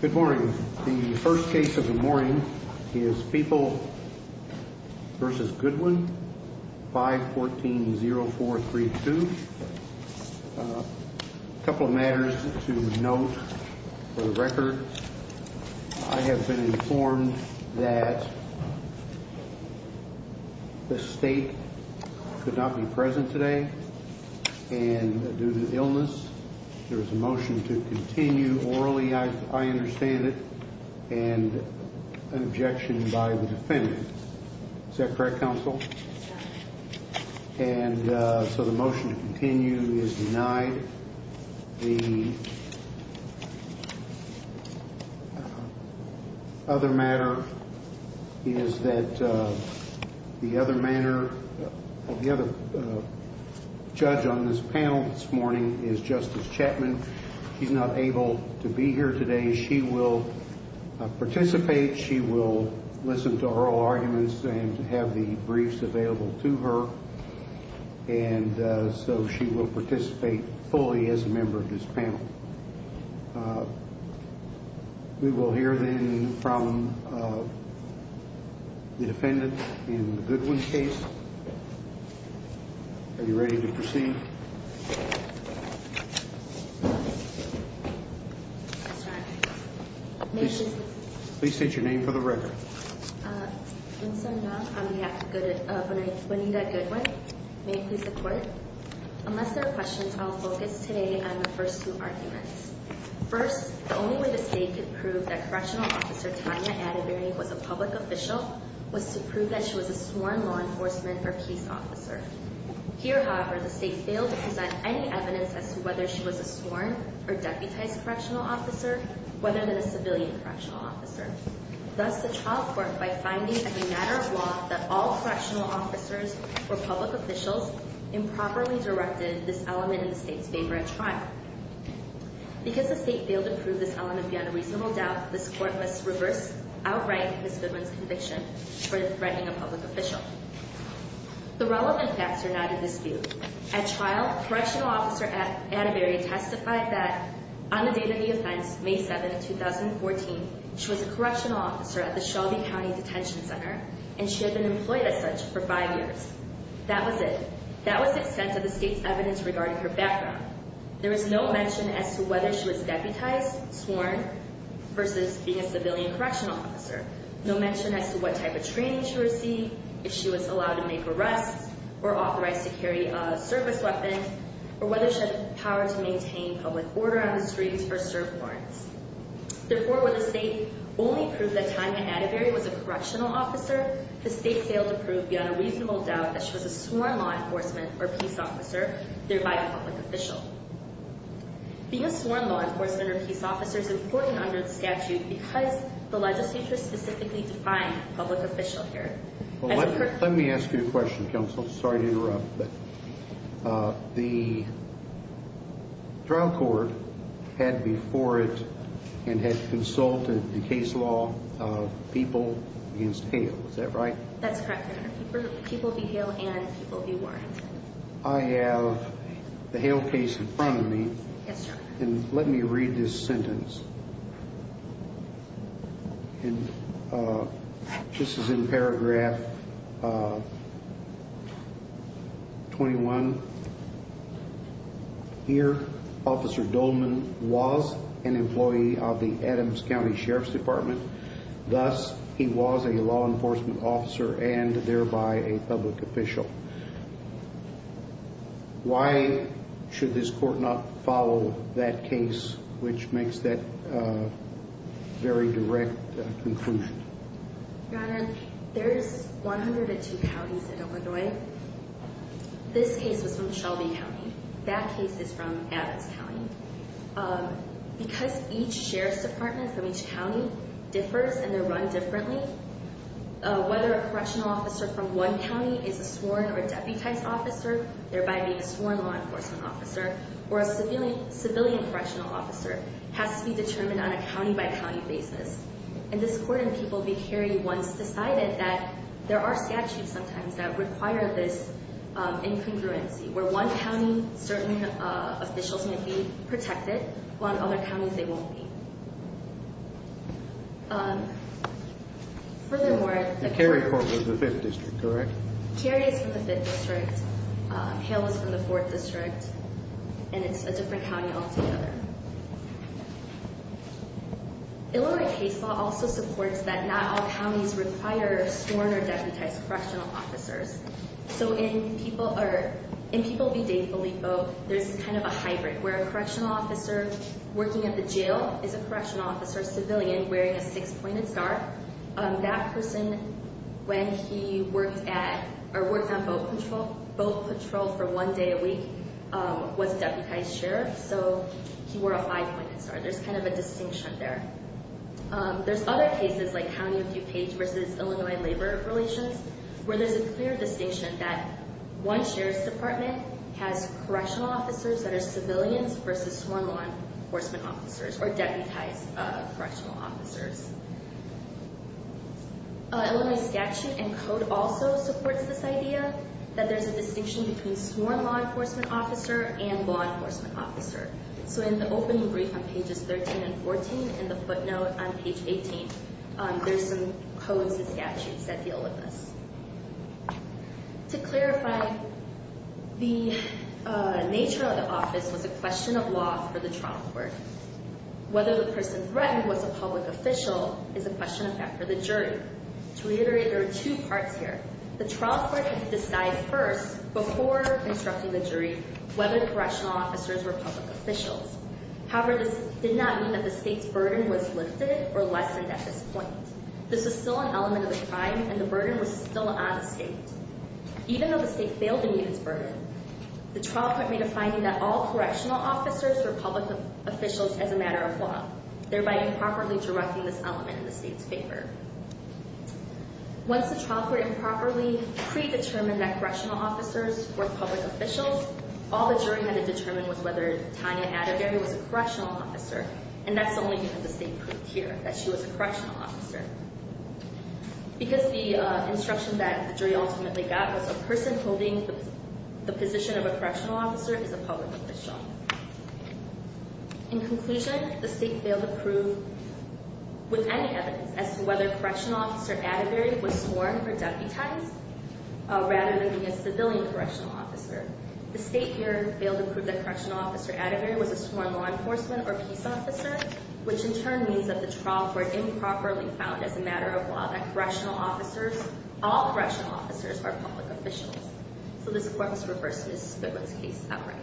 Good morning. The first case of the morning is People v. Goodwin, 514-0432. A couple of matters to note for the record. I have been informed that the state could not be present today, and due to illness, there is a motion to continue orally, I understand it, and an objection by the defendant. Is that correct, counsel? And so the motion to continue is denied. The other matter is that the other judge on this panel this morning is Justice Chapman. She's not able to be here today. She will participate. She will listen to oral arguments and have the briefs available to her. And so she will participate fully as a member of this panel. We will hear then from the defendant in the Goodwin case. Are you ready to proceed? Please state your name for the record. And so now I'm going to have to go to Bonita Goodwin. May I please report? Unless there are questions, I'll focus today on the first two arguments. First, the only way the state could prove that Correctional Officer Tanya Atterbury was a public official was to prove that she was a sworn law enforcement or peace officer. Here, however, the state failed to present any evidence as to whether she was a sworn or deputized correctional officer, whether than a civilian correctional officer. Thus, the trial court, by finding a matter of law that all correctional officers were public officials, improperly directed this element in the state's favor at trial. Because the state failed to prove this element beyond a reasonable doubt, this court must reverse, outright, Ms. Goodwin's conviction for threatening a public official. The relevant facts are now to dispute. At trial, Correctional Officer Atterbury testified that on the date of the offense, May 7, 2014, she was a correctional officer at the Shelby County Detention Center, and she had been employed as such for five years. That was it. That was the extent of the state's evidence regarding her background. There is no mention as to whether she was deputized, sworn, versus being a civilian correctional officer. No mention as to what type of training she received, if she was allowed to make arrests, or authorized to carry a service weapon, or whether she had the power to maintain public order on the streets or serve warrants. Therefore, when the state only proved that Tanya Atterbury was a correctional officer, the state failed to prove beyond a reasonable doubt that she was a sworn law enforcement or peace officer, thereby a public official. Being a sworn law enforcement or peace officer is important under the statute because the legislature specifically defined public official here. Let me ask you a question, counsel. Sorry to interrupt, but the trial court had before it and had consulted the case law of people against Hale. Is that right? That's correct, Your Honor. People beat Hale and people do warrants. I have the Hale case in front of me. Yes, Your Honor. And let me read this sentence. This is in paragraph 21. Here, Officer Dolman was an employee of the Adams County Sheriff's Department. Thus, he was a law enforcement officer and thereby a public official. Why should this court not follow that case which makes that very direct conclusion? Your Honor, there's 102 counties in Illinois. This case was from Shelby County. That case is from Adams County. Because each sheriff's department from each county differs and they're run differently, whether a correctional officer from one county is a sworn or deputized officer, thereby being a sworn law enforcement officer, or a civilian correctional officer has to be determined on a county-by-county basis. And this court in People v. Cary once decided that there are statutes sometimes that require this incongruency, where one county certain officials may be protected while in other counties they won't be. Furthermore, the Cary court was the 5th District, correct? Cary is from the 5th District. Hale is from the 4th District. And it's a different county altogether. Illinois case law also supports that not all counties require sworn or deputized correctional officers. So in People v. Dave Bilippo, there's kind of a hybrid where a correctional officer working at the jail is a correctional officer, a civilian wearing a six-pointed star. That person, when he worked on boat patrol for one day a week, was a deputized sheriff, so he wore a five-pointed star. There's kind of a distinction there. There's other cases, like County of DuPage v. Illinois Labor Relations, where there's a clear distinction that one sheriff's department has correctional officers that are civilians versus sworn law enforcement officers, or deputized correctional officers. Illinois statute and code also supports this idea that there's a distinction between sworn law enforcement officer and law enforcement officer. So in the opening brief on pages 13 and 14 and the footnote on page 18, there's some codes and statutes that deal with this. To clarify, the nature of the office was a question of law for the trial court. Whether the person threatened was a public official is a question of that for the jury. To reiterate, there are two parts here. The trial court had to decide first, before constructing the jury, whether the correctional officers were public officials. However, this did not mean that the state's burden was lifted or lessened at this point. This was still an element of the crime, and the burden was still on the state. Even though the state failed to meet its burden, the trial court made a finding that all correctional officers were public officials as a matter of law, thereby improperly directing this element in the state's favor. Once the trial court improperly predetermined that correctional officers were public officials, all the jury had to determine was whether Tanya Adegare was a correctional officer. And that's the only thing that the state proved here, that she was a correctional officer. Because the instruction that the jury ultimately got was a person holding the position of a correctional officer is a public official. In conclusion, the state failed to prove with any evidence as to whether correctional officer Adegare was sworn or deputized, rather than being a civilian correctional officer. The state here failed to prove that correctional officer Adegare was a sworn law enforcement or peace officer, which in turn means that the trial court improperly found as a matter of law that correctional officers, all correctional officers, are public officials. So this, of course, refers to Ms. Goodwin's case outright.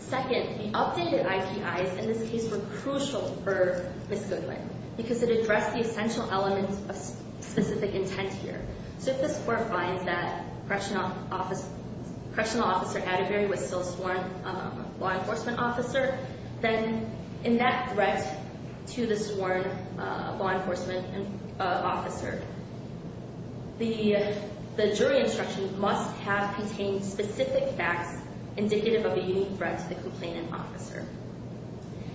Second, the updated IPIs in this case were crucial for Ms. Goodwin because it addressed the essential elements of specific intent here. So if the court finds that correctional officer Adegare was still sworn law enforcement officer, then in that threat to the sworn law enforcement officer, the jury instruction must have contained specific facts indicative of a unique threat to the complainant officer.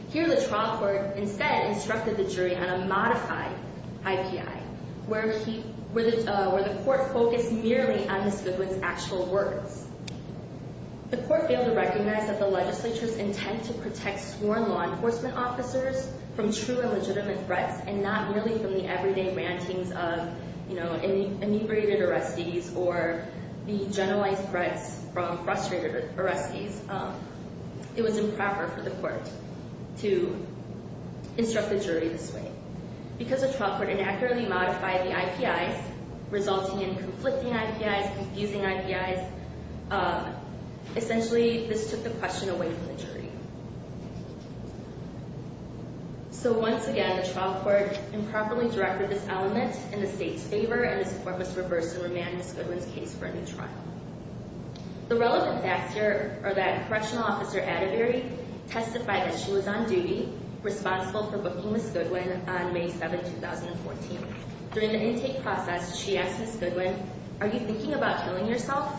Here, the trial court instead instructed the jury on a modified IPI, where the court focused merely on Ms. Goodwin's actual words. The court failed to recognize that the legislature's intent to protect sworn law enforcement officers from true and legitimate threats and not merely from the everyday rantings of, you know, inebriated arrestees or the generalized threats from frustrated arrestees. It was improper for the court to instruct the jury this way. Because the trial court inaccurately modified the IPIs, resulting in conflicting IPIs, confusing IPIs, essentially this took the question away from the jury. So once again, the trial court improperly directed this element in the state's favor, and this court must reverse and remand Ms. Goodwin's case for a new trial. The relevant facts here are that correctional officer Adegare testified that she was on duty, responsible for booking Ms. Goodwin on May 7, 2014. During the intake process, she asked Ms. Goodwin, are you thinking about killing yourself?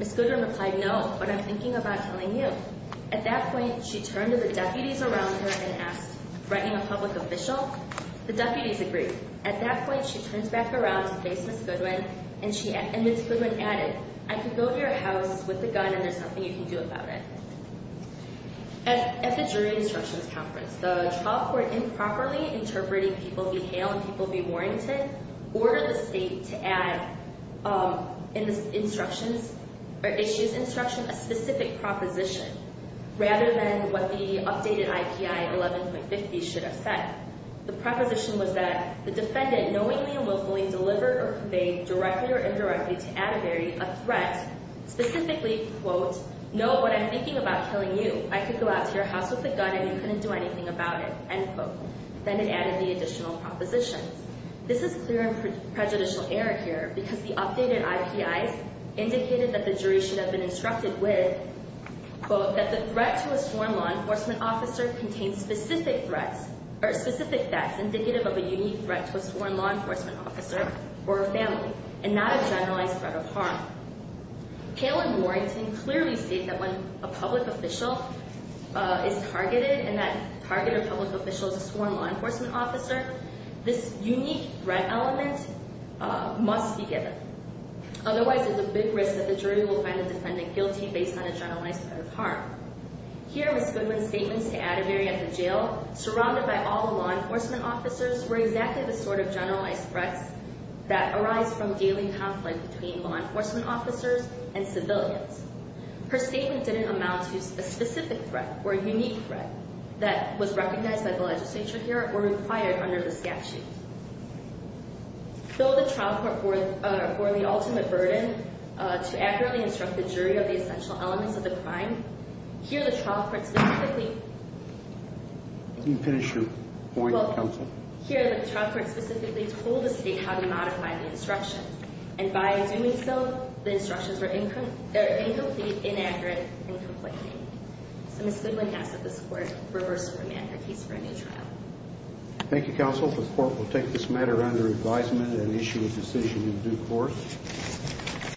Ms. Goodwin replied, no, but I'm thinking about killing you. At that point, she turned to the deputies around her and asked, threatening a public official? The deputies agreed. At that point, she turns back around to face Ms. Goodwin, and Ms. Goodwin added, I can go to your house with a gun and there's nothing you can do about it. At the jury instructions conference, the trial court improperly interpreted people behailed and people be warranted, ordered the state to add in the instructions, or issue's instructions, a specific proposition, rather than what the updated IPI 11.50 should have said. The proposition was that the defendant knowingly and willfully delivered or conveyed directly or indirectly to Adegare a threat, specifically, quote, no, but I'm thinking about killing you. I could go out to your house with a gun and you couldn't do anything about it, end quote. Then it added the additional proposition. This is clear and prejudicial error here because the updated IPIs indicated that the jury should have been instructed with, quote, that the threat to a sworn law enforcement officer contains specific threats, or specific threats indicative of a unique threat to a sworn law enforcement officer or a family, and not a generalized threat of harm. Kayla and Warrington clearly state that when a public official is targeted and that targeted public official is a sworn law enforcement officer, this unique threat element must be given. Otherwise, there's a big risk that the jury will find the defendant guilty based on a generalized threat of harm. Here, Ms. Goodwin's statements to Adegare at the jail, surrounded by all the law enforcement officers, were exactly the sort of generalized threats that arise from daily conflict between law enforcement officers and civilians. Her statement didn't amount to a specific threat or a unique threat that was recognized by the legislature here or required under the statute. Though the trial court bore the ultimate burden to accurately instruct the jury of the essential elements of the crime, here the trial court specifically told the state how to modify the instructions. And by doing so, the instructions were incomplete, inaccurate, and complaining. So Ms. Goodwin asks that this court reverse the remand her case for a new trial. Thank you, counsel. The court will take this matter under advisement and issue a decision in due course.